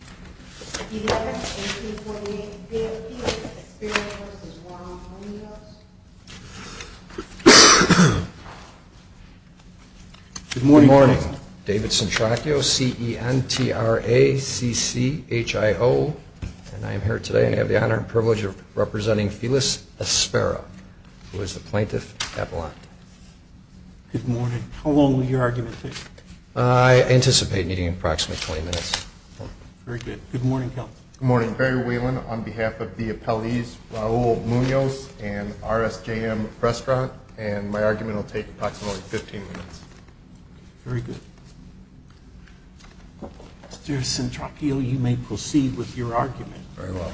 Good morning, David Centracchio, CENTRACCHIO, and I am here today and I have the honor and privilege of representing Felis Aspera, who is the plaintiff at Blount. Good morning. How long will your argument take? I anticipate meeting in approximately 20 minutes. Very good. Good morning, Kel. Good morning. Barry Whelan on behalf of the appellees Raul Munoz and RSJM Restaurant, and my argument will take approximately 15 minutes. Very good. Mr. Centracchio, you may proceed with your argument. Very well.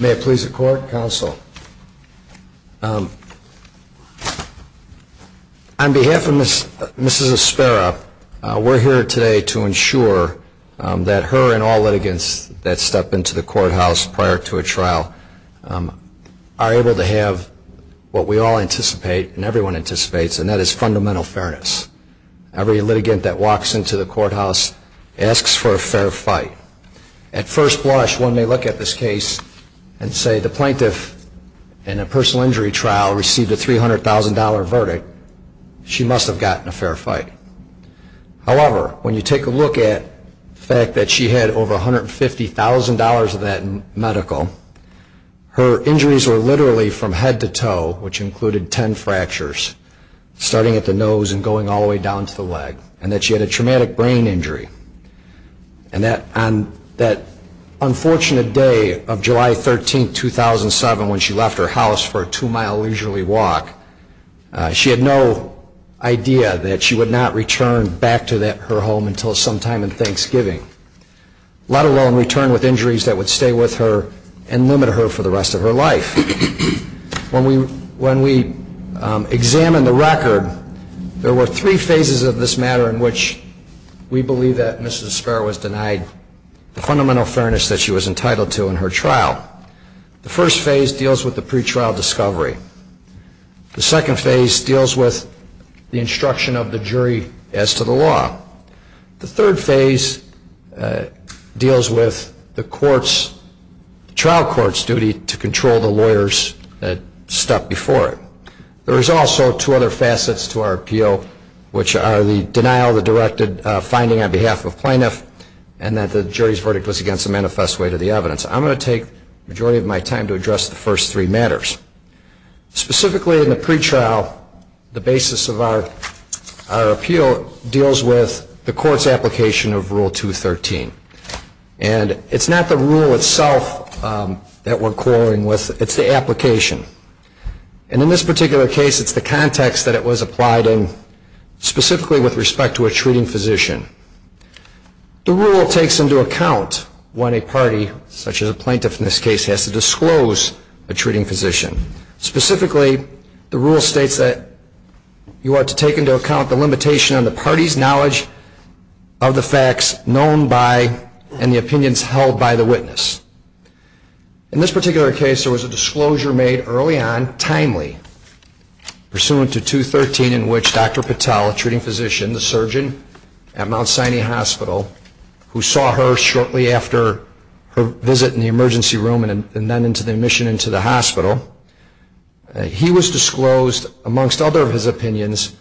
May it please the court, counsel. On behalf of Mrs. Aspera, we are here today to ensure that her and all litigants that step into the courthouse prior to a trial are able to have what we all anticipate and everyone anticipates, and that is fundamental fairness. Every litigant that walks into the courthouse asks for a fair fight. At first blush, when they look at this case and say the plaintiff in a personal injury trial received a $300,000 verdict, she must have gotten a fair fight. However, when you take a look at the fact that she had over $150,000 of that medical, her injuries were literally from head to toe, which included 10 fractures, starting at the ankle all the way down to the leg, and that she had a traumatic brain injury. And that on that unfortunate day of July 13, 2007, when she left her house for a two-mile leisurely walk, she had no idea that she would not return back to her home until sometime in Thanksgiving, let alone return with injuries that would stay with her and limit her for the rest of her life. When we examined the record, there were three phases of this matter in which we believe that Mrs. Esparra was denied the fundamental fairness that she was entitled to in her trial. The first phase deals with the pretrial discovery. The second phase deals with the instruction of the jury as to the law. The third phase deals with the trial court's duty to control the lawyers that stuck before it. There is also two other facets to our appeal, which are the denial of the directed finding on behalf of plaintiff, and that the jury's verdict was against the manifest way to the evidence. I'm going to take the majority of my time to address the first three matters. Specifically in the pretrial, the basis of our appeal deals with the court's application of Rule 213. And it's not the rule itself that we're quarreling with, it's the application. And in this particular case, it's the context that it was applied in, specifically with respect to a treating physician. The rule takes into account when a party, such as a plaintiff in this case, has to disclose a treating physician. Specifically, the rule states that you ought to take into account the limitation on the party's knowledge of the facts known by, and the opinions held by, the witness. In this particular case, there was a disclosure made early on, timely, pursuant to 213, in which Dr. Patel, a treating physician, the surgeon at Mount Sinai Hospital, who saw her shortly after her visit in the emergency room and then into the admission into the hospital, he was disclosed, amongst other of his opinions,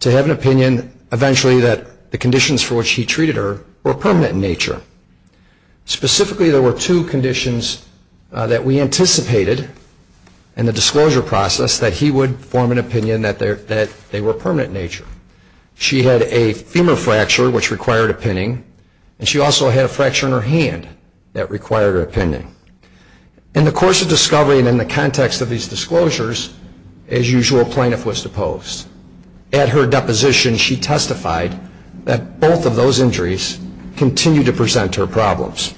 to have an opinion, eventually, that the conditions for which he treated her were permanent in nature. Specifically there were two conditions that we anticipated in the disclosure process that he would form an opinion that they were permanent in nature. She had a femur fracture, which required a pinning, and she also had a fracture in her hand that required a pinning. In the course of discovery and in the context of these disclosures, as usual, a plaintiff was deposed. At her deposition, she testified that both of those injuries continued to present her problems.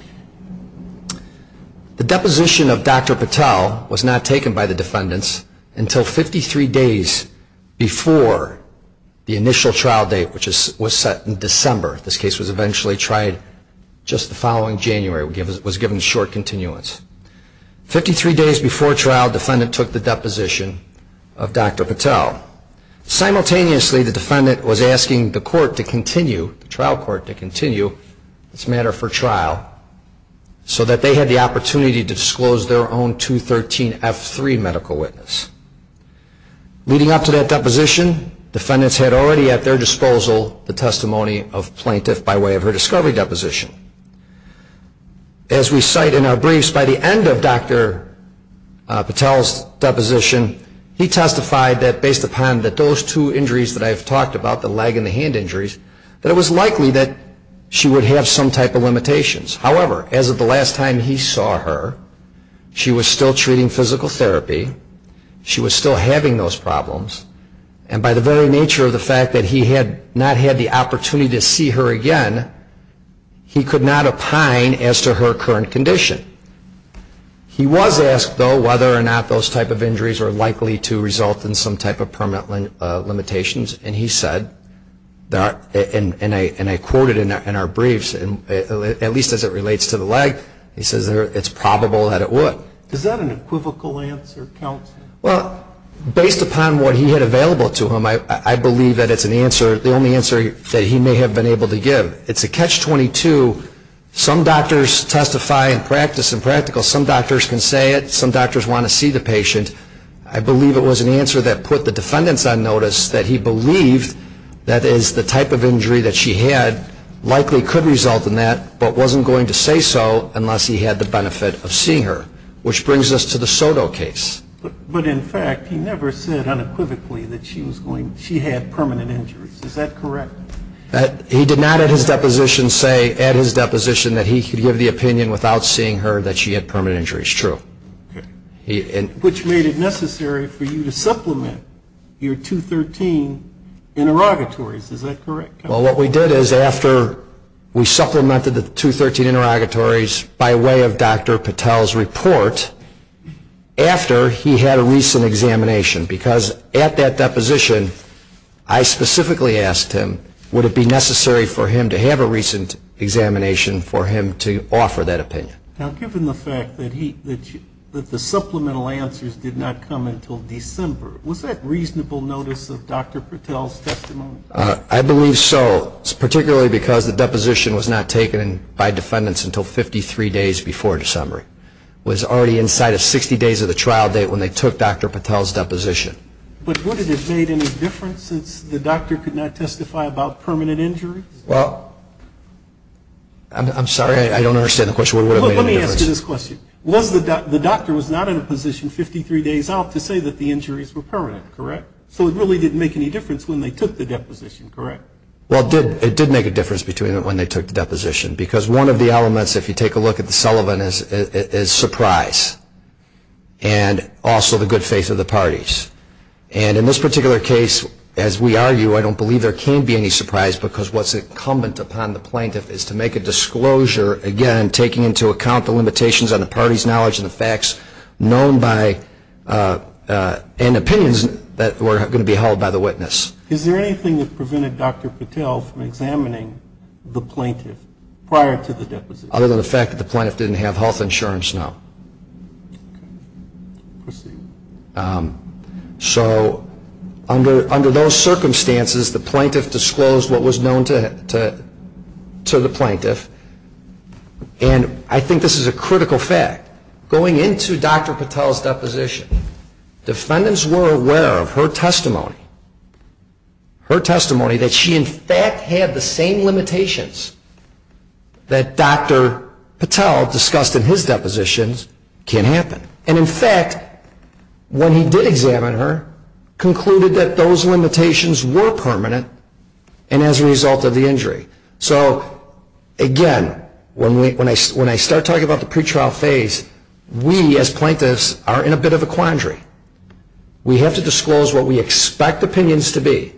The deposition of Dr. Patel was not taken by the defendants until 53 days before the initial trial date, which was set in December. This case was eventually tried just the following January, was given short continuance. Fifty-three days before trial, the defendant took the deposition of Dr. Patel. Simultaneously, the defendant was asking the court to continue, the trial court to continue this matter for trial, so that they had the opportunity to disclose their own 213F3 medical witness. Leading up to that deposition, defendants had already at their disposal the testimony of the plaintiff by way of her discovery deposition. As we cite in our briefs, by the end of Dr. Patel's deposition, he testified that based upon those two injuries that I have talked about, the leg and the hand injuries, that it was likely that she would have some type of limitations. However, as of the last time he saw her, she was still treating physical therapy, she was still having those problems, and by the very nature of the fact that he had not had the opportunity to see her again, he could not opine as to her current condition. He was asked, though, whether or not those type of injuries were likely to result in some type of permanent limitations, and he said, and I quote it in our briefs, at least as it relates to the leg, he says it's probable that it would. Is that an equivocal answer, counsel? Well, based upon what he had available to him, I believe that it's an answer, the only answer that he may have been able to give. It's a catch-22. Some doctors testify in practice and practical, some doctors can say it, some doctors want to see the patient. I believe it was an answer that put the defendants on notice, that he believed that the type of injury that she had likely could result in that, but wasn't going to say so unless he had the benefit of seeing her, which brings us to the Soto case. But in fact, he never said unequivocally that she had permanent injuries, is that correct? He did not at his deposition say, at his deposition, that he could give the opinion without seeing her that she had permanent injuries, true. Which made it necessary for you to supplement your 213 interrogatories, is that correct? Well, what we did is after we supplemented the 213 interrogatories by way of Dr. Patel's report, after he had a recent examination, because at that deposition, I specifically asked him, would it be necessary for him to have a recent examination for him to offer that opinion? Now given the fact that the supplemental answers did not come until December, was that reasonable notice of Dr. Patel's testimony? I believe so, particularly because the deposition was not taken by defendants until 53 days before December. It was already inside of 60 days of the trial date when they took Dr. Patel's deposition. But would it have made any difference since the doctor could not testify about permanent injuries? Well, I'm sorry, I don't understand the question. Would it have made any difference? Let me ask you this question. The doctor was not in a position 53 days out to say that the injuries were permanent, correct? So it really didn't make any difference when they took the deposition, correct? Well, it did make a difference between when they took the deposition, because one of the elements, if you take a look at the Sullivan, is surprise, and also the good faith of the parties. And in this particular case, as we argue, I don't believe there can be any surprise because what's incumbent upon the plaintiff is to make a disclosure, again, taking into account the limitations on the party's knowledge and the facts known by, and opinions that were going to be held by the witness. Is there anything that prevented Dr. Patel from examining the plaintiff prior to the deposition? Other than the fact that the plaintiff didn't have health insurance, no. Proceed. So under those circumstances, the plaintiff disclosed what was known to the plaintiff, and I think this is a critical fact. Going into Dr. Patel's deposition, defendants were aware of her testimony, her testimony that she, in fact, had the same limitations that Dr. Patel discussed in his depositions can happen. And in fact, when he did examine her, concluded that those limitations were permanent and as a result of the injury. So again, when I start talking about the pretrial phase, we, as plaintiffs, are in a bit of a quandary. We have to disclose what we expect opinions to be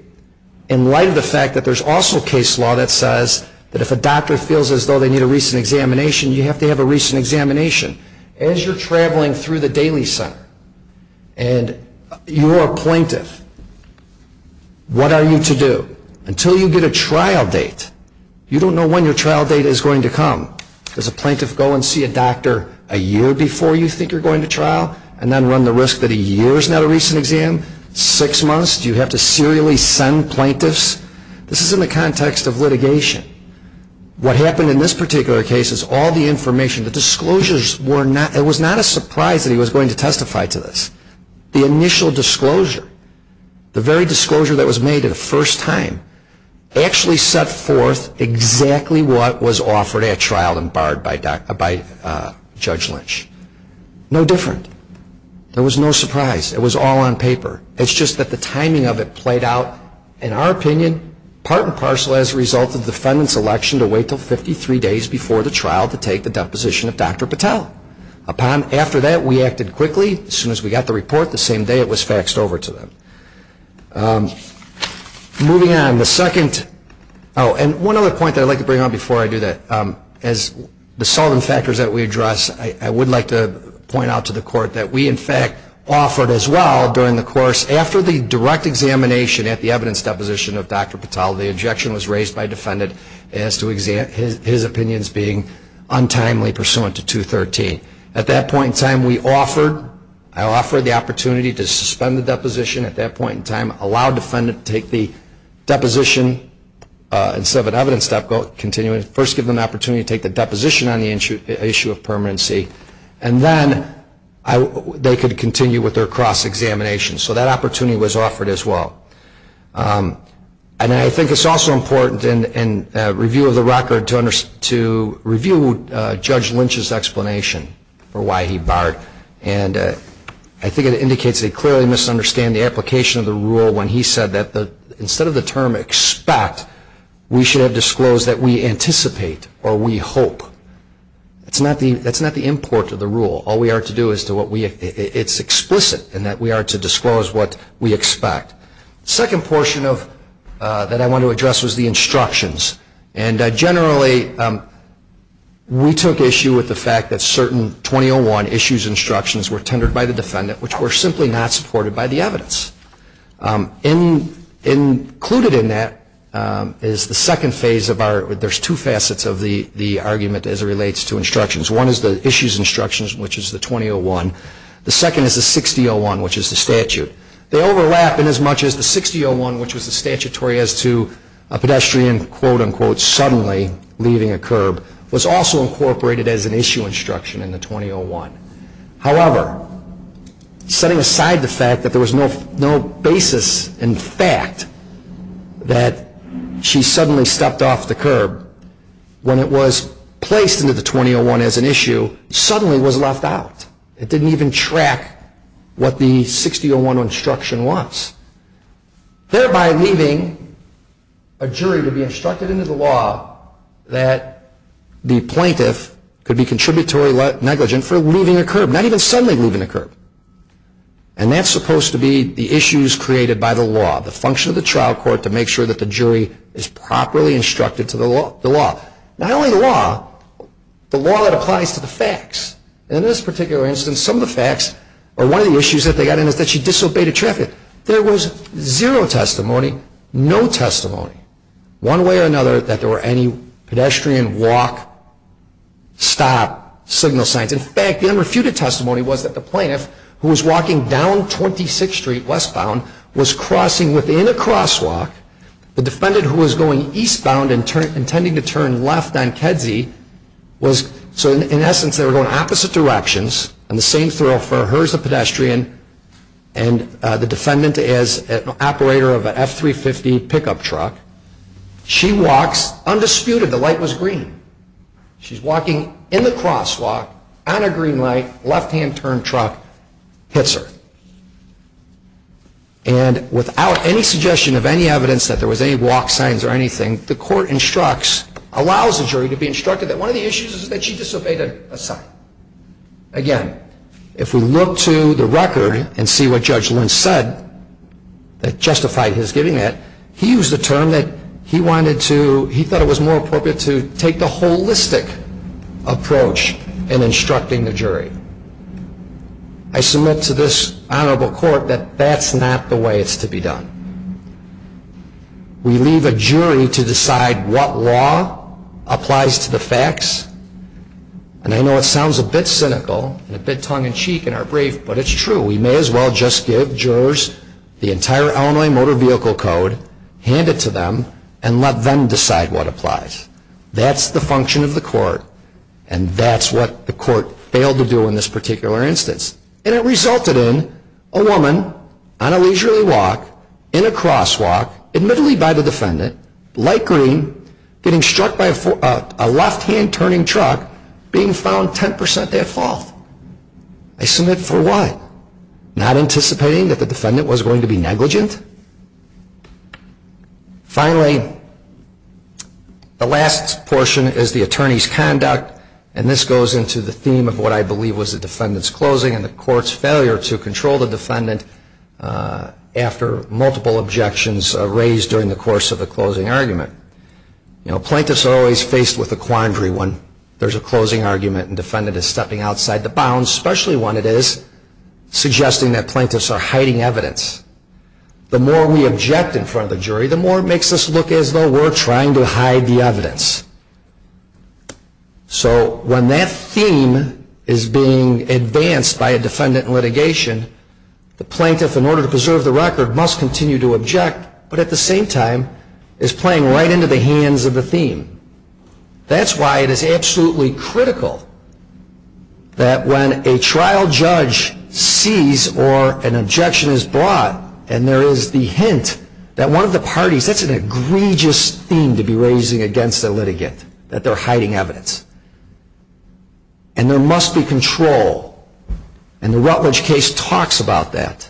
in light of the fact that there's also case law that says that if a doctor feels as though they need a recent examination, you have to have a recent examination. As you're traveling through the Daily Center and you're a plaintiff, what are you to do? Until you get a trial date, you don't know when your trial date is going to come. Does a plaintiff go and see a doctor a year before you think you're going to trial and then run the risk that a year is not a recent exam? Six months? Do you have to serially send plaintiffs? This is in the context of litigation. What happened in this particular case is all the information, the disclosures, it was not a surprise that he was going to testify to this. The initial disclosure, the very disclosure that was made the first time, actually set forth exactly what was offered at trial and barred by Judge Lynch. No different. There was no surprise. It was all on paper. It's just that the timing of it played out, in our opinion, part and parcel as a result of the defendant's election to wait until 53 days before the trial to take the deposition of Dr. Patel. After that, we acted quickly. As soon as we got the report, the same day it was faxed over to them. Moving on, the second, oh, and one other point that I'd like to bring on before I do that, as the solvent factors that we address, I would like to point out to the court that we, in fact, offered as well during the course, after the direct examination at the evidence deposition of Dr. Patel, the objection was raised by defendant as to his opinions being untimely pursuant to 213. At that point in time, we offered, I offered the opportunity to suspend the deposition at that point in time, allow defendant to take the deposition, instead of an evidence deposition, first give them the opportunity to take the deposition on the issue of permanency, and then they could continue with their cross-examination. So that opportunity was offered as well. And I think it's also important in review of the record to review Judge Lynch's explanation for why he barred. And I think it indicates that he clearly misunderstood the application of the rule when he said that instead of the term expect, we should have disclosed that we anticipate or we hope. That's not the import of the rule. All we are to do is to what we, it's explicit in that we are to disclose what we expect. Second portion of, that I want to address was the instructions. And generally, we took issue with the fact that certain 2001 issues instructions were tendered by the defendant, which were simply not supported by the evidence. Included in that is the second phase of our, there's two facets of the argument as it relates to instructions. One is the issues instructions, which is the 2001. The second is the 6001, which is the statute. They overlap in as much as the 6001, which was the statutory as to a pedestrian, quote unquote, suddenly leaving a curb, was also incorporated as an issue instruction in the 2001. However, setting aside the fact that there was no basis in fact that she suddenly stepped off the curb when it was placed into the 2001 as an issue, suddenly was left out. It didn't even track what the 6001 instruction was. Thereby leaving a jury to be instructed into the law that the plaintiff could be contributory negligent for leaving a curb, not even suddenly leaving a curb. And that's supposed to be the issues created by the law, the function of the trial court to make sure that the jury is properly instructed to the law. Not only the law, the law that applies to the facts. In this particular instance, some of the facts, or one of the issues that they got in is that she disobeyed a traffic. There was zero testimony, no testimony, one way or another, that there were any pedestrian walk, stop, signal signs. In fact, the unrefuted testimony was that the plaintiff, who was walking down 26th Street westbound, was crossing within a crosswalk. The defendant, who was going eastbound and intending to turn left on Kedzie, was, so in essence, they were going opposite directions, and the same thoroughfare, her as a pedestrian and the defendant as an operator of an F350 pickup truck. She walks undisputed, the light was green. She's walking in the crosswalk, on a green light, left hand turn truck, hits her. And without any suggestion of any evidence that there was any walk signs or anything, the court instructs, allows the jury to be instructed that one of the issues is that she disobeyed a sign. Again, if we look to the record and see what Judge Lynch said that justified his giving it, he used a term that he wanted to, he thought it was more appropriate to take the holistic approach in instructing the jury. I submit to this honorable court that that's not the way it's to be done. We leave a jury to decide what law applies to the facts, and I know it sounds a bit cynical, and a bit tongue-in-cheek in our brief, but it's true. We may as well just give jurors the entire Illinois Motor Vehicle Code, hand it to them, and let them decide what applies. That's the function of the court, and that's what the court failed to do in this particular instance. And it resulted in a woman, on a leisurely walk, in a crosswalk, admittedly by the defendant, light green, getting struck by a left hand turning truck, being found 10% at fault. I submit for what? Not anticipating that the defendant was going to be negligent? Finally, the last portion is the attorney's conduct, and this goes into the theme of what I believe was the defendant's closing and the court's failure to control the defendant after multiple objections raised during the course of the closing argument. Plaintiffs are always faced with a quandary when there's a closing argument and the defendant is stepping outside the bounds, especially when it is suggesting that plaintiffs are hiding evidence. The more we object in front of the jury, the more it makes us look as though we're trying to hide the evidence. So when that theme is being advanced by a defendant in litigation, the plaintiff, in order to preserve the record, must continue to object, but at the same time is playing right into the hands of the theme. That's why it is absolutely critical that when a trial judge sees or an objection is brought and there is the hint that one of the parties, that's an egregious theme to be raising against a litigant, that they're hiding evidence. And there must be control, and the Rutledge case talks about that.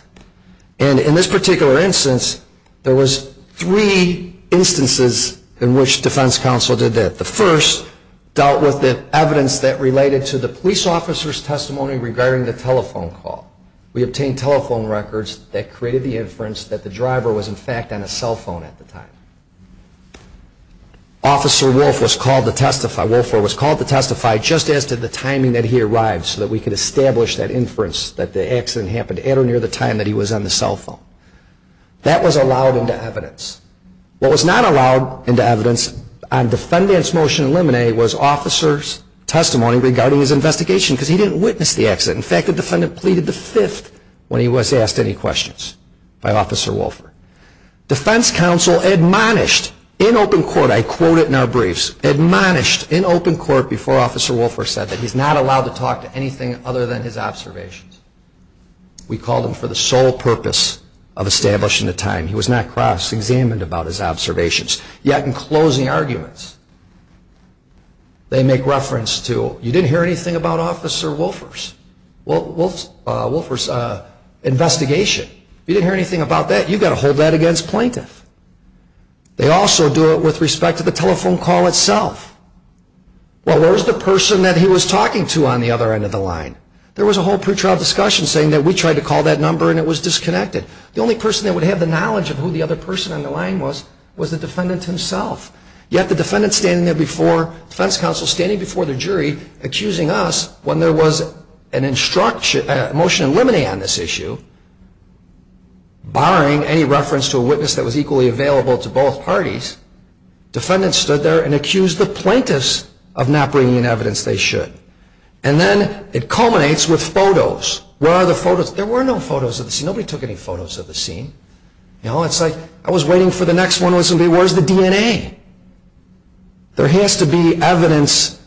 And in this particular instance, there was three instances in which defense counsel did that. The first dealt with the evidence that related to the police officer's testimony regarding the telephone call. We obtained telephone records that created the inference that the driver was in fact on a cell phone at the time. Officer Wolfer was called to testify just as to the timing that he arrived so that we that he was on the cell phone. That was allowed into evidence. What was not allowed into evidence on defendant's motion in limine was officer's testimony regarding his investigation, because he didn't witness the accident. In fact, the defendant pleaded the fifth when he was asked any questions by Officer Wolfer. Defense counsel admonished in open court, I quote it in our briefs, admonished in open court before Officer Wolfer said that he's not allowed to talk to anything other than his observations. We called him for the sole purpose of establishing the time. He was not cross-examined about his observations, yet in closing arguments, they make reference to you didn't hear anything about Officer Wolfer's investigation, you didn't hear anything about that, you've got to hold that against plaintiff. They also do it with respect to the telephone call itself. Well, where's the person that he was talking to on the other end of the line? There was a whole pre-trial discussion saying that we tried to call that number and it was disconnected. The only person that would have the knowledge of who the other person on the line was, was the defendant himself. Yet the defendant standing there before defense counsel, standing before the jury, accusing us when there was a motion in limine on this issue, barring any reference to a witness that was equally available to both parties, defendant stood there and accused the plaintiffs of not bringing in evidence they should. And then it culminates with photos. Where are the photos? There were no photos of the scene. Nobody took any photos of the scene. It's like, I was waiting for the next one, where's the DNA? There has to be evidence,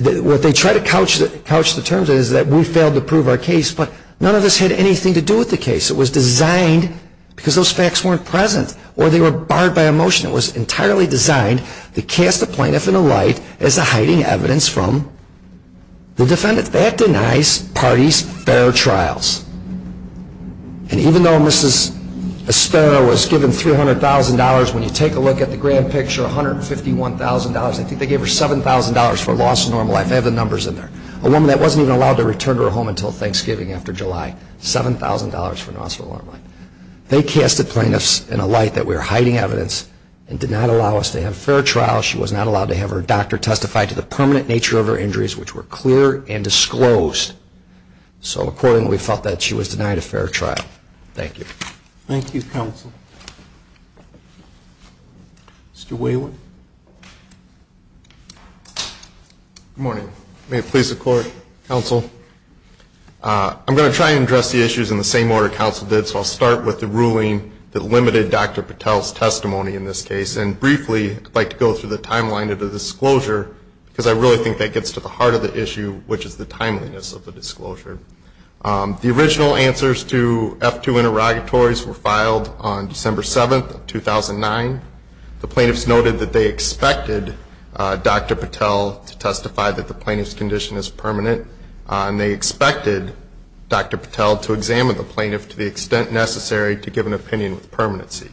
what they try to couch the terms of is that we failed to prove our case, but none of this had anything to do with the case, it was designed because those facts weren't present or they were barred by a motion, it was entirely designed to cast the plaintiff in a light as a hiding evidence from the defendant. That denies parties fair trials and even though Mrs. Aspera was given $300,000, when you take a look at the grand picture, $151,000, I think they gave her $7,000 for loss of normal life, I have the numbers in there, a woman that wasn't even allowed to return to her home until Thanksgiving after July, $7,000 for loss of normal life. They cast the plaintiffs in a light that we're hiding evidence and did not allow us to have a fair trial. She was not allowed to have her doctor testify to the permanent nature of her injuries, which were clear and disclosed. So accordingly, we felt that she was denied a fair trial. Thank you. Thank you, counsel. Mr. Wayward. Good morning. May it please the court, counsel, I'm going to try and address the issues in the same order counsel did, so I'll start with the ruling that limited Dr. Patel's testimony in this case, and briefly, I'd like to go through the timeline of the disclosure, because I really think that gets to the heart of the issue, which is the timeliness of the disclosure. The original answers to F2 interrogatories were filed on December 7th, 2009. The plaintiffs noted that they expected Dr. Patel to testify that the plaintiff's condition is permanent, and they expected Dr. Patel to examine the plaintiff to the extent necessary to give an opinion with permanency.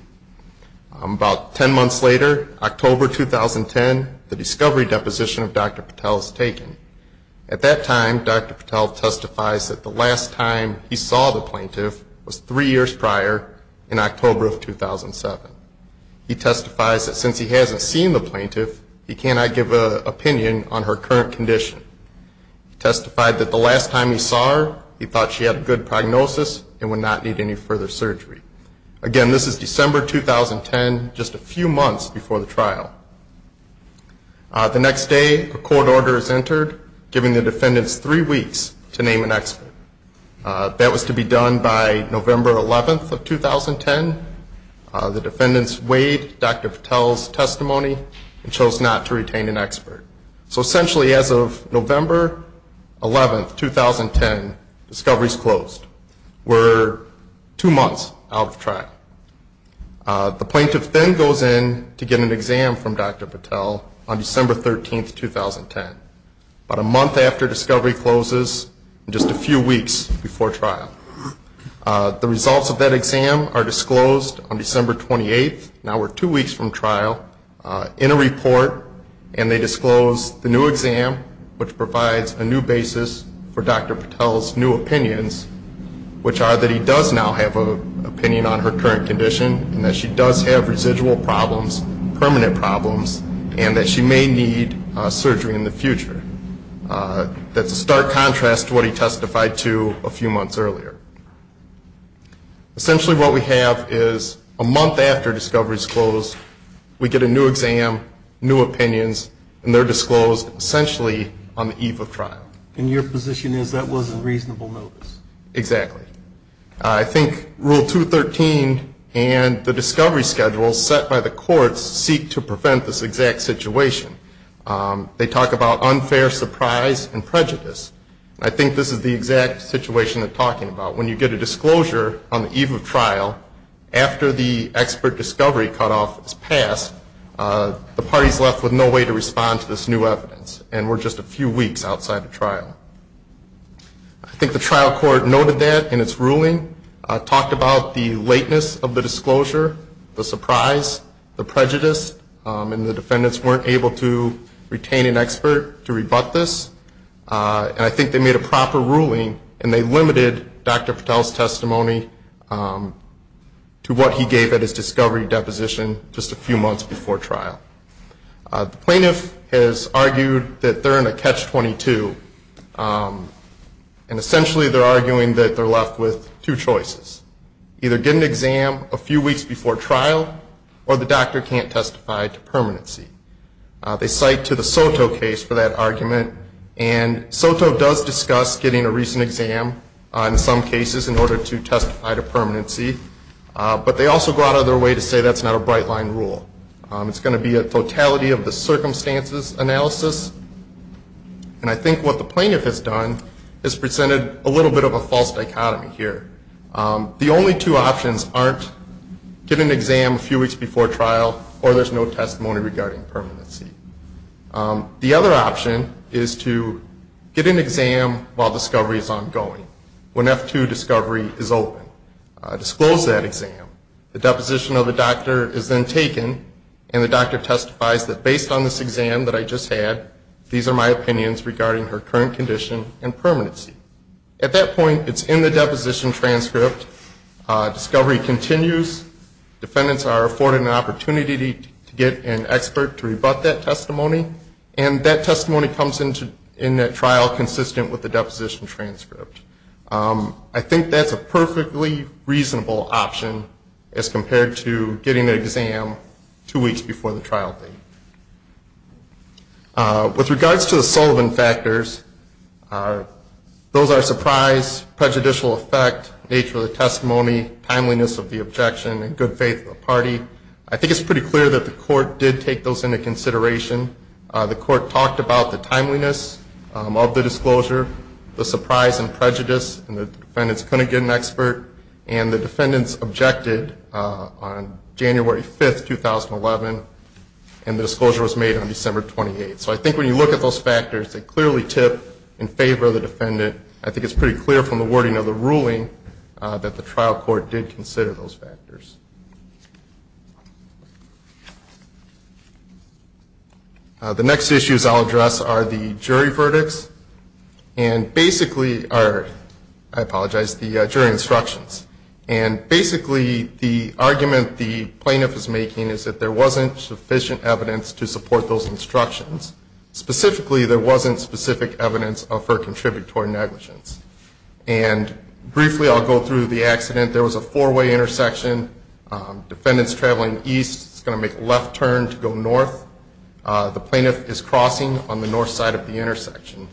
About ten months later, October 2010, the discovery deposition of Dr. Patel is taken. At that time, Dr. Patel testifies that the last time he saw the plaintiff was three years prior in October of 2007. He testifies that since he hasn't seen the plaintiff, he cannot give an opinion on her current condition. He testified that the last time he saw her, he thought she had good prognosis and would not need any further surgery. Again, this is December 2010, just a few months before the trial. The next day, a court order is entered, giving the defendants three weeks to name an expert. That was to be done by November 11th of 2010. The defendants weighed Dr. Patel's testimony and chose not to retain an expert. So essentially, as of November 11th, 2010, discovery is closed. We're two months out of trial. The plaintiff then goes in to get an exam from Dr. Patel on December 13th, 2010, about a month after discovery closes and just a few weeks before trial. The results of that exam are disclosed on December 28th, now we're two weeks from trial, in a report, and they disclose the new exam, which provides a new basis for Dr. Patel's new opinions, which are that he does now have an opinion on her current condition and that she does have residual problems, permanent problems, and that she may need surgery in the future. That's a stark contrast to what he testified to a few months earlier. Essentially, what we have is a month after discovery is closed, we get a new exam, new opinions, and they're disclosed essentially on the eve of trial. And your position is that was in reasonable notice? Exactly. I think Rule 213 and the discovery schedule set by the courts seek to prevent this exact situation. They talk about unfair surprise and prejudice. I think this is the exact situation they're talking about. When you get a disclosure on the eve of trial, after the expert discovery cutoff is passed, the party's left with no way to respond to this new evidence, and we're just a few weeks outside of trial. I think the trial court noted that in its ruling, talked about the lateness of the disclosure, the surprise, the prejudice, and the defendants weren't able to retain an expert to rebut this. And I think they made a proper ruling, and they limited Dr. Patel's testimony to what he gave at his discovery deposition just a few months before trial. The plaintiff has argued that they're in a catch-22, and essentially they're arguing that they're left with two choices. Either get an exam a few weeks before trial, or the doctor can't testify to permanency. They cite to the Soto case for that argument, and Soto does discuss getting a recent exam on some cases in order to testify to permanency, but they also go out of their way to say that's not a bright-line rule. It's going to be a totality of the circumstances analysis, and I think what the plaintiff has done is presented a little bit of a false dichotomy here. The only two options aren't get an exam a few weeks before trial, or there's no testimony regarding permanency. The other option is to get an exam while discovery is ongoing, when F-2 discovery is open. Disclose that exam. The deposition of the doctor is then taken, and the doctor testifies that based on this exam that I just had, these are my opinions regarding her current condition and permanency. At that point, it's in the deposition transcript, discovery continues, defendants are afforded an opportunity to get an expert to rebut that testimony, and that testimony comes in that trial consistent with the deposition transcript. I think that's a perfectly reasonable option as compared to getting an exam two weeks before the trial date. With regards to the Sullivan factors, those are surprise, prejudicial effect, nature of the testimony, timeliness of the objection, and good faith of the party. I think it's pretty clear that the court did take those into consideration. The court talked about the timeliness of the disclosure, the surprise and prejudice, and the defendants couldn't get an expert, and the defendants objected on January 5th, 2011, and the disclosure was made on December 28th. So I think when you look at those factors, they clearly tip in favor of the defendant. I think it's pretty clear from the wording of the ruling that the trial court did consider those factors. The next issues I'll address are the jury verdicts, and basically, I apologize, the jury instructions. And basically, the argument the plaintiff is making is that there wasn't sufficient evidence to support those instructions. Specifically, there wasn't specific evidence for contributory negligence. And briefly, I'll go through the accident. There was a four-way intersection. Defendant's traveling east, he's going to make a left turn to go north. The plaintiff is crossing on the north side of the intersection.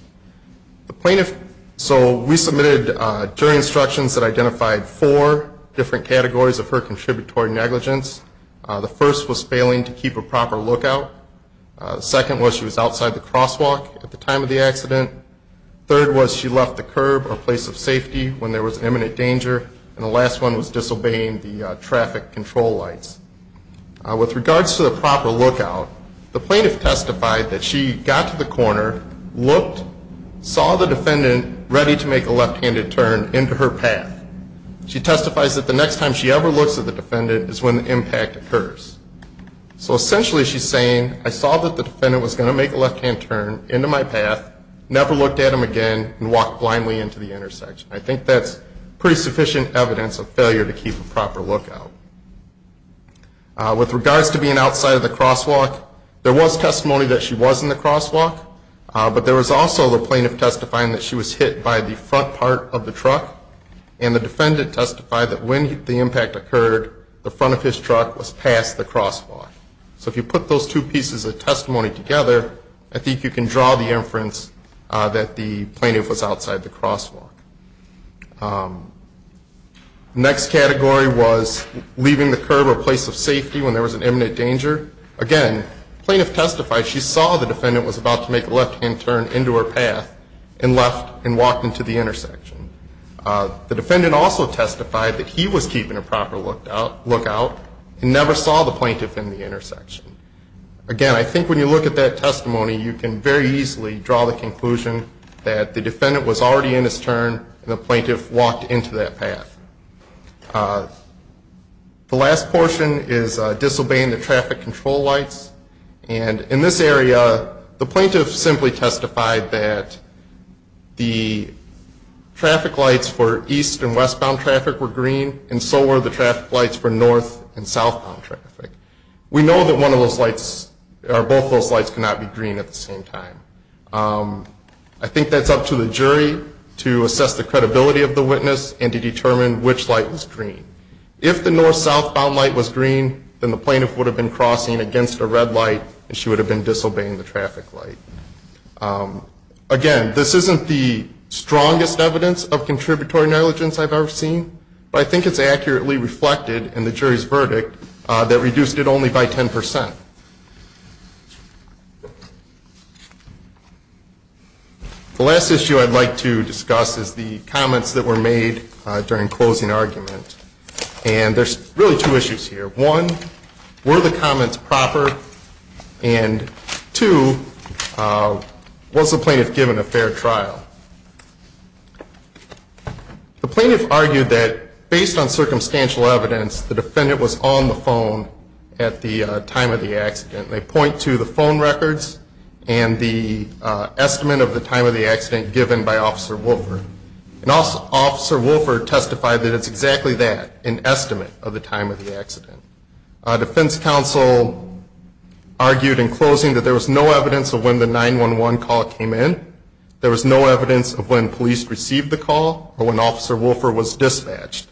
The plaintiff, so we submitted jury instructions that identified four different categories of her contributory negligence. The first was failing to keep a proper lookout. Second was she was outside the crosswalk at the time of the accident. Third was she left the curb or place of safety when there was imminent danger. And the last one was disobeying the traffic control lights. With regards to the proper lookout, the plaintiff testified that she got to the corner, looked, saw the defendant ready to make a left-handed turn into her path. She testifies that the next time she ever looks at the defendant is when the impact occurs. So, essentially, she's saying, I saw that the defendant was going to make a left-hand turn into my path, never looked at him again, and walked blindly into the intersection. I think that's pretty sufficient evidence of failure to keep a proper lookout. With regards to being outside of the crosswalk, there was testimony that she was in the crosswalk, but there was also the plaintiff testifying that she was hit by the front part of the truck. And the defendant testified that when the impact occurred, the front of his truck was past the crosswalk. So, if you put those two pieces of testimony together, I think you can draw the inference that the plaintiff was outside the crosswalk. The next category was leaving the curb or place of safety when there was an imminent danger. Again, the plaintiff testified she saw the defendant was about to make a left-hand turn into her path and left and walked into the intersection. The defendant also testified that he was keeping a proper lookout and never saw the plaintiff in the intersection. Again, I think when you look at that testimony, you can very easily draw the conclusion that the defendant was already in his turn and the plaintiff walked into that path. The last portion is disobeying the traffic control lights. And in this area, the plaintiff simply testified that the traffic lights for east and westbound traffic were green and so were the traffic lights for north and southbound traffic. We know that both of those lights cannot be green at the same time. I think that's up to the jury to assess the credibility of the witness and to determine which light was green. If the north-southbound light was green, then the plaintiff would have been crossing against a red light and she would have been disobeying the traffic light. Again, this isn't the strongest evidence of contributory negligence I've ever seen, but I think it's accurately reflected in the jury's verdict that reduced it only by 10%. The last issue I'd like to discuss is the comments that were made during closing argument. And there's really two issues here. One, were the comments proper? And two, was the plaintiff given a fair trial? The plaintiff argued that based on circumstantial evidence, the defendant was on the phone at the time of the accident. They point to the phone records and the estimate of the time of the accident given by Officer Wolford. And Officer Wolford testified that it's exactly that, an estimate of the time of the accident. Defense counsel argued in closing that there was no evidence of when the 911 call came in. There was no evidence of when police received the call or when Officer Wolford was dispatched.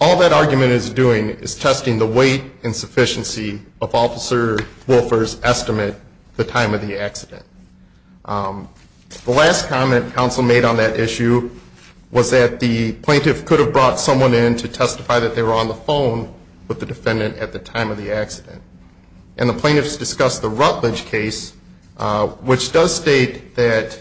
All that argument is doing is testing the weight and sufficiency of Officer Wolford's estimate, the time of the accident. The last comment counsel made on that issue was that the plaintiff could have brought someone in to testify that they were on the phone with the defendant at the time of the accident. And the plaintiffs discussed the Rutledge case, which does state that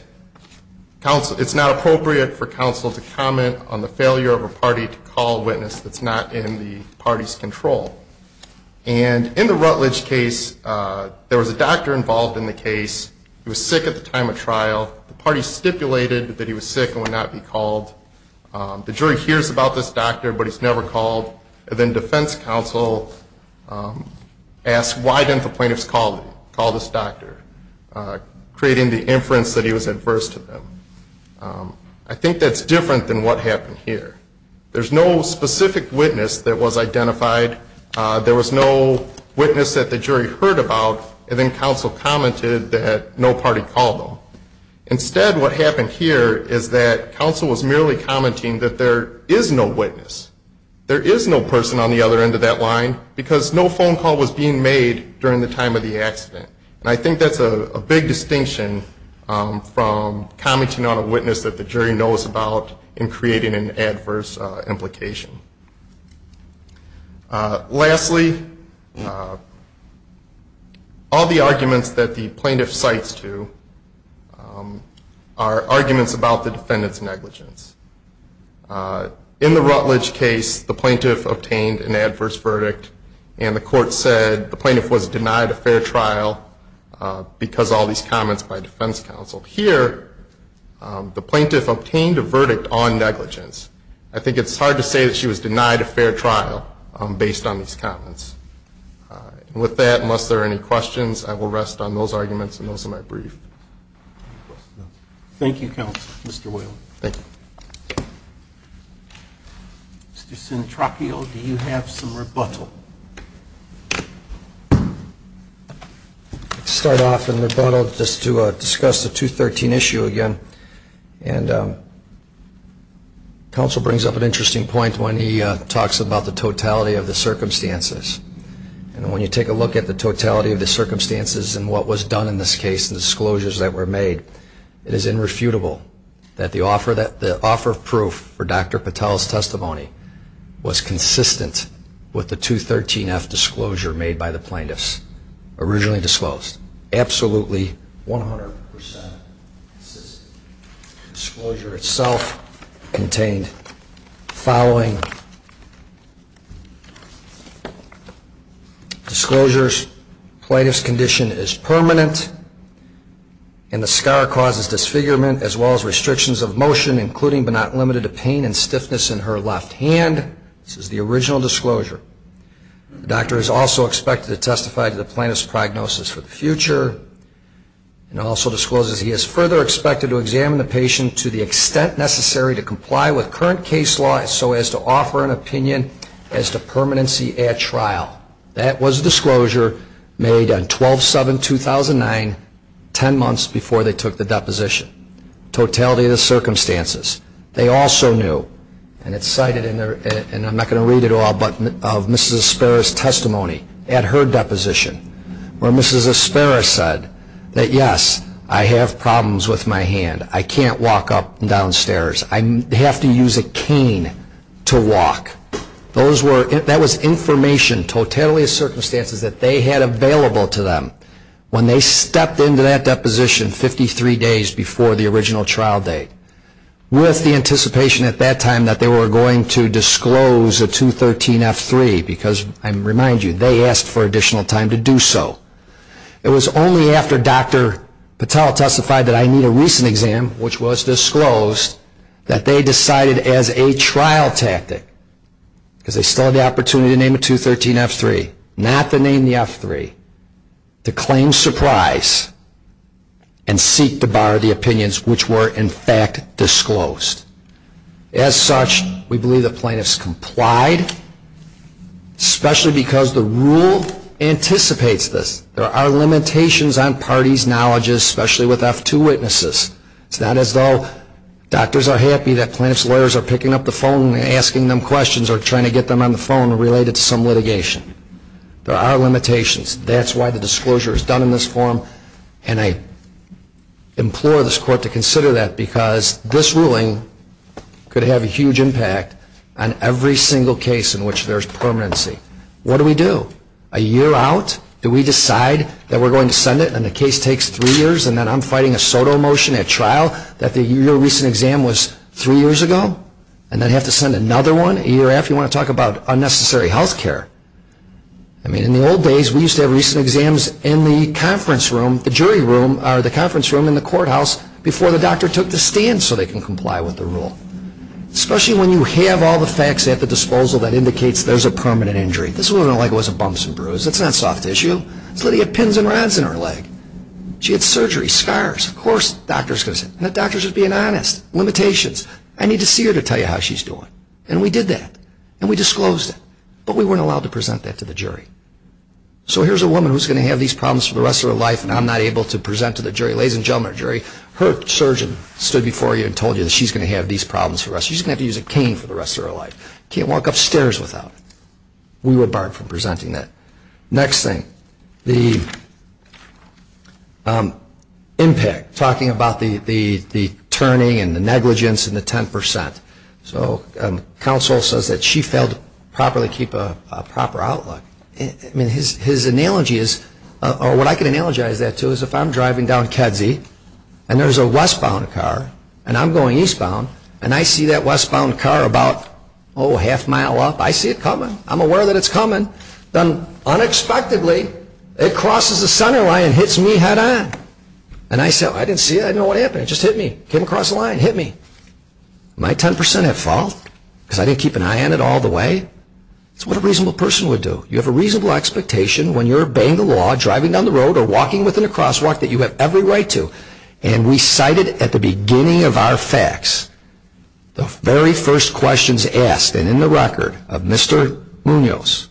it's not appropriate for counsel to comment on the failure of a party to call a witness that's not in the party's control. And in the Rutledge case, there was a doctor involved in the case. He was sick at the time of trial. The party stipulated that he was sick and would not be called. The jury hears about this doctor, but he's never called. And then defense counsel asked why didn't the plaintiffs call this doctor, creating the inference that he was adverse to them. I think that's different than what happened here. There's no specific witness that was identified. There was no witness that the jury heard about. And then counsel commented that no party called him. Instead, what happened here is that counsel was merely commenting that there is no witness. There is no person on the other end of that line, because no phone call was being made during the time of the accident. And I think that's a big distinction from commenting on a witness that the jury knows about in creating an adverse implication. Lastly, all the arguments that the plaintiff cites to are arguments about the defendant's negligence. In the Rutledge case, the plaintiff obtained an adverse verdict, and the court said the plaintiff was denied a fair trial because of all these comments by defense counsel. Here, the plaintiff obtained a verdict on negligence. I think it's hard to say that she was denied a fair trial based on these comments. And with that, unless there are any questions, I will rest on those arguments, and those are my brief. Thank you, counsel. Mr. Whalen. Thank you. Mr. Centracchio, do you have some rebuttal? I'll start off in rebuttal just to discuss the 213 issue again. And counsel brings up an interesting point when he talks about the totality of the circumstances. And when you take a look at the totality of the circumstances and what was done in this case and disclosures that were made, it is irrefutable that the offer of proof for Dr. Patel's testimony was consistent with the 213F disclosure made by the plaintiffs, originally disclosed. Absolutely 100% consistent. Disclosure itself contained the following disclosures. Plaintiff's condition is permanent, and the scar causes disfigurement as well as restrictions of motion, including but not limited to pain and stiffness in her left hand. This is the original disclosure. The doctor is also expected to testify to the plaintiff's prognosis for the future and also discloses he is further expected to examine the patient to the extent necessary to comply with current case law so as to offer an opinion as to permanency at trial. That was a disclosure made on 12-7-2009, 10 months before they took the deposition. Totality of the circumstances. They also knew, and it's cited in their, and I'm not going to read it all, but of Mrs. Aspera's testimony at her deposition, where Mrs. Aspera said that, yes, I have problems with my hand. I can't walk up and down stairs. I have to use a cane to walk. That was information, totality of circumstances, that they had available to them. When they stepped into that deposition 53 days before the original trial date, with the anticipation at that time that they were going to disclose a 213F3, because I remind you, they asked for additional time to do so. It was only after Dr. Patel testified that I need a recent exam, which was disclosed, that they decided as a trial tactic, because they still had the opportunity to name a 213F3, not the name the F3, to claim surprise and seek to bar the opinions which were in fact disclosed. As such, we believe the plaintiffs complied, especially because the rule anticipates this. There are limitations on parties' knowledge, especially with F2 witnesses. It's not as though doctors are happy that plaintiffs' lawyers are picking up the phone and asking them questions or trying to get them on the phone related to some litigation. There are limitations. That's why the disclosure is done in this form, and I implore this court to consider that, because this ruling could have a huge impact on every single case in which there's permanency. What do we do? A year out, do we decide that we're going to send it, and the case takes three years, and then I'm fighting a SOTO motion at trial that the year-recent exam was three years ago, and then have to send another one a year after? You want to talk about unnecessary health care? I mean, in the old days, we used to have recent exams in the conference room, the jury room, or the conference room in the courthouse, before the doctor took the stand so they can comply with the rule. Especially when you have all the facts at the disposal that indicates there's a permanent injury. This woman, like it wasn't bumps and bruises. It's not soft tissue. This lady had pins and rods in her leg. She had surgery, scars. Of course the doctor's going to say, the doctor's just being honest. Limitations. I need to see her to tell you how she's doing. And we did that, and we disclosed it, but we weren't allowed to present that to the jury. So here's a woman who's going to have these problems for the rest of her life, and I'm not able to present to the jury. Ladies and gentlemen of the jury, her surgeon stood before you and told you that she's going to have these problems for the rest of her life. She's going to have to use a cane for the rest of her life. Can't walk upstairs without it. We were barred from presenting that. Next thing. The impact. Talking about the turning and the negligence and the 10%. So counsel says that she failed to properly keep a proper outlook. I mean, his analogy is, or what I can analogize that to, is if I'm driving down Kedzie, and there's a westbound car, and I'm going eastbound, and I see that westbound car about, oh, half mile up. I see it coming. I'm aware that it's coming. Unexpectedly, it crosses the center line and hits me head on. And I said, I didn't see it. I didn't know what happened. It just hit me. Came across the line. Hit me. Am I 10% at fault? Because I didn't keep an eye on it all the way? That's what a reasonable person would do. You have a reasonable expectation when you're obeying the law, driving down the road, or walking within a crosswalk that you have every right to. And we cited at the beginning of our facts, the very first questions asked. And in the record of Mr. Munoz,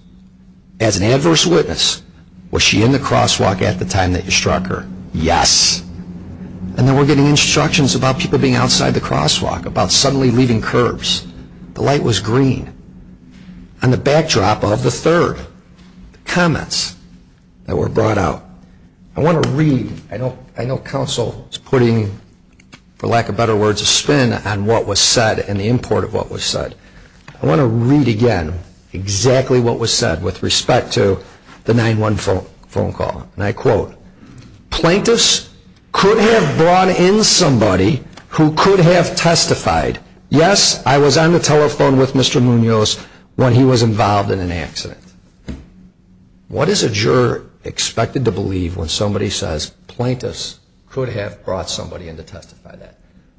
as an adverse witness, was she in the crosswalk at the time that you struck her? Yes. And then we're getting instructions about people being outside the crosswalk, about suddenly leaving curbs. The light was green. On the backdrop of the third, the comments that were brought out. I want to read. I know counsel is putting, for lack of better words, a spin on what was said and the import of what was said. I want to read again exactly what was said with respect to the 9-1 phone call. And I quote, Plaintiffs could have brought in somebody who could have testified, yes, I was on the telephone with Mr. Munoz when he was involved in an accident. What is a juror expected to believe when somebody says plaintiffs could have brought somebody in to testify?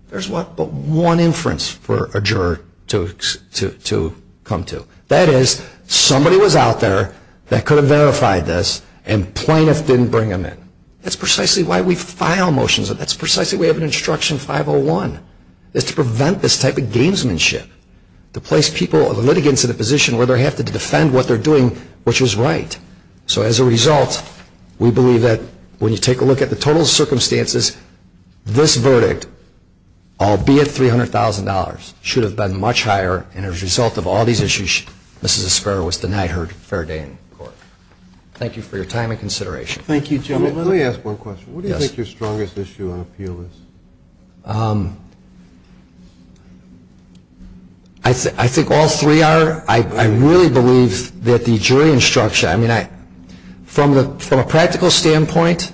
There's but one inference for a juror to come to. That is, somebody was out there that could have verified this and plaintiffs didn't bring them in. That's precisely why we file motions. That's precisely why we have an instruction 501. It's to prevent this type of gamesmanship. To place people, the litigants, in a position where they have to defend what they're doing, which is right. So as a result, we believe that when you take a look at the total circumstances, this verdict, albeit $300,000, should have been much higher, and as a result of all these issues, Mrs. Esparra was denied her fair day in court. Thank you for your time and consideration. Thank you, gentlemen. Let me ask one question. Yes. What do you think your strongest issue on appeal is? I think all three are, I really believe that the jury instruction, I mean, from a practical standpoint,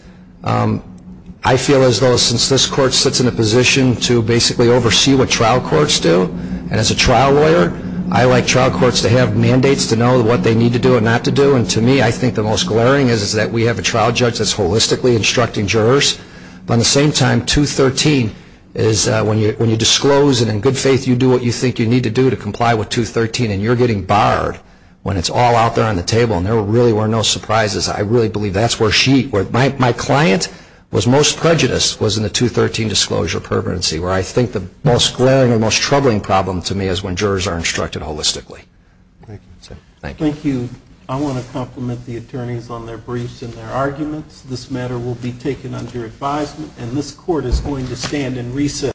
I feel as though since this court sits in a position to basically oversee what trial courts do, and as a trial lawyer, I like trial courts to have mandates to know what they need to do and not to do, and to me I think the most glaring is that we have a trial judge that's holistically instructing jurors, but at the same time, 213 is when you disclose and in good faith you do what you think you need to do to comply with 213, and you're getting barred when it's all out there on the table, and there really were no surprises. I really believe that's where she, where my client was most prejudiced, was in the 213 disclosure permanency, where I think the most glaring and most troubling problem to me is when jurors are instructed holistically. Thank you. Thank you. I want to compliment the attorneys on their briefs and their arguments. This matter will be taken under advisement, and this court is going to stand in recess.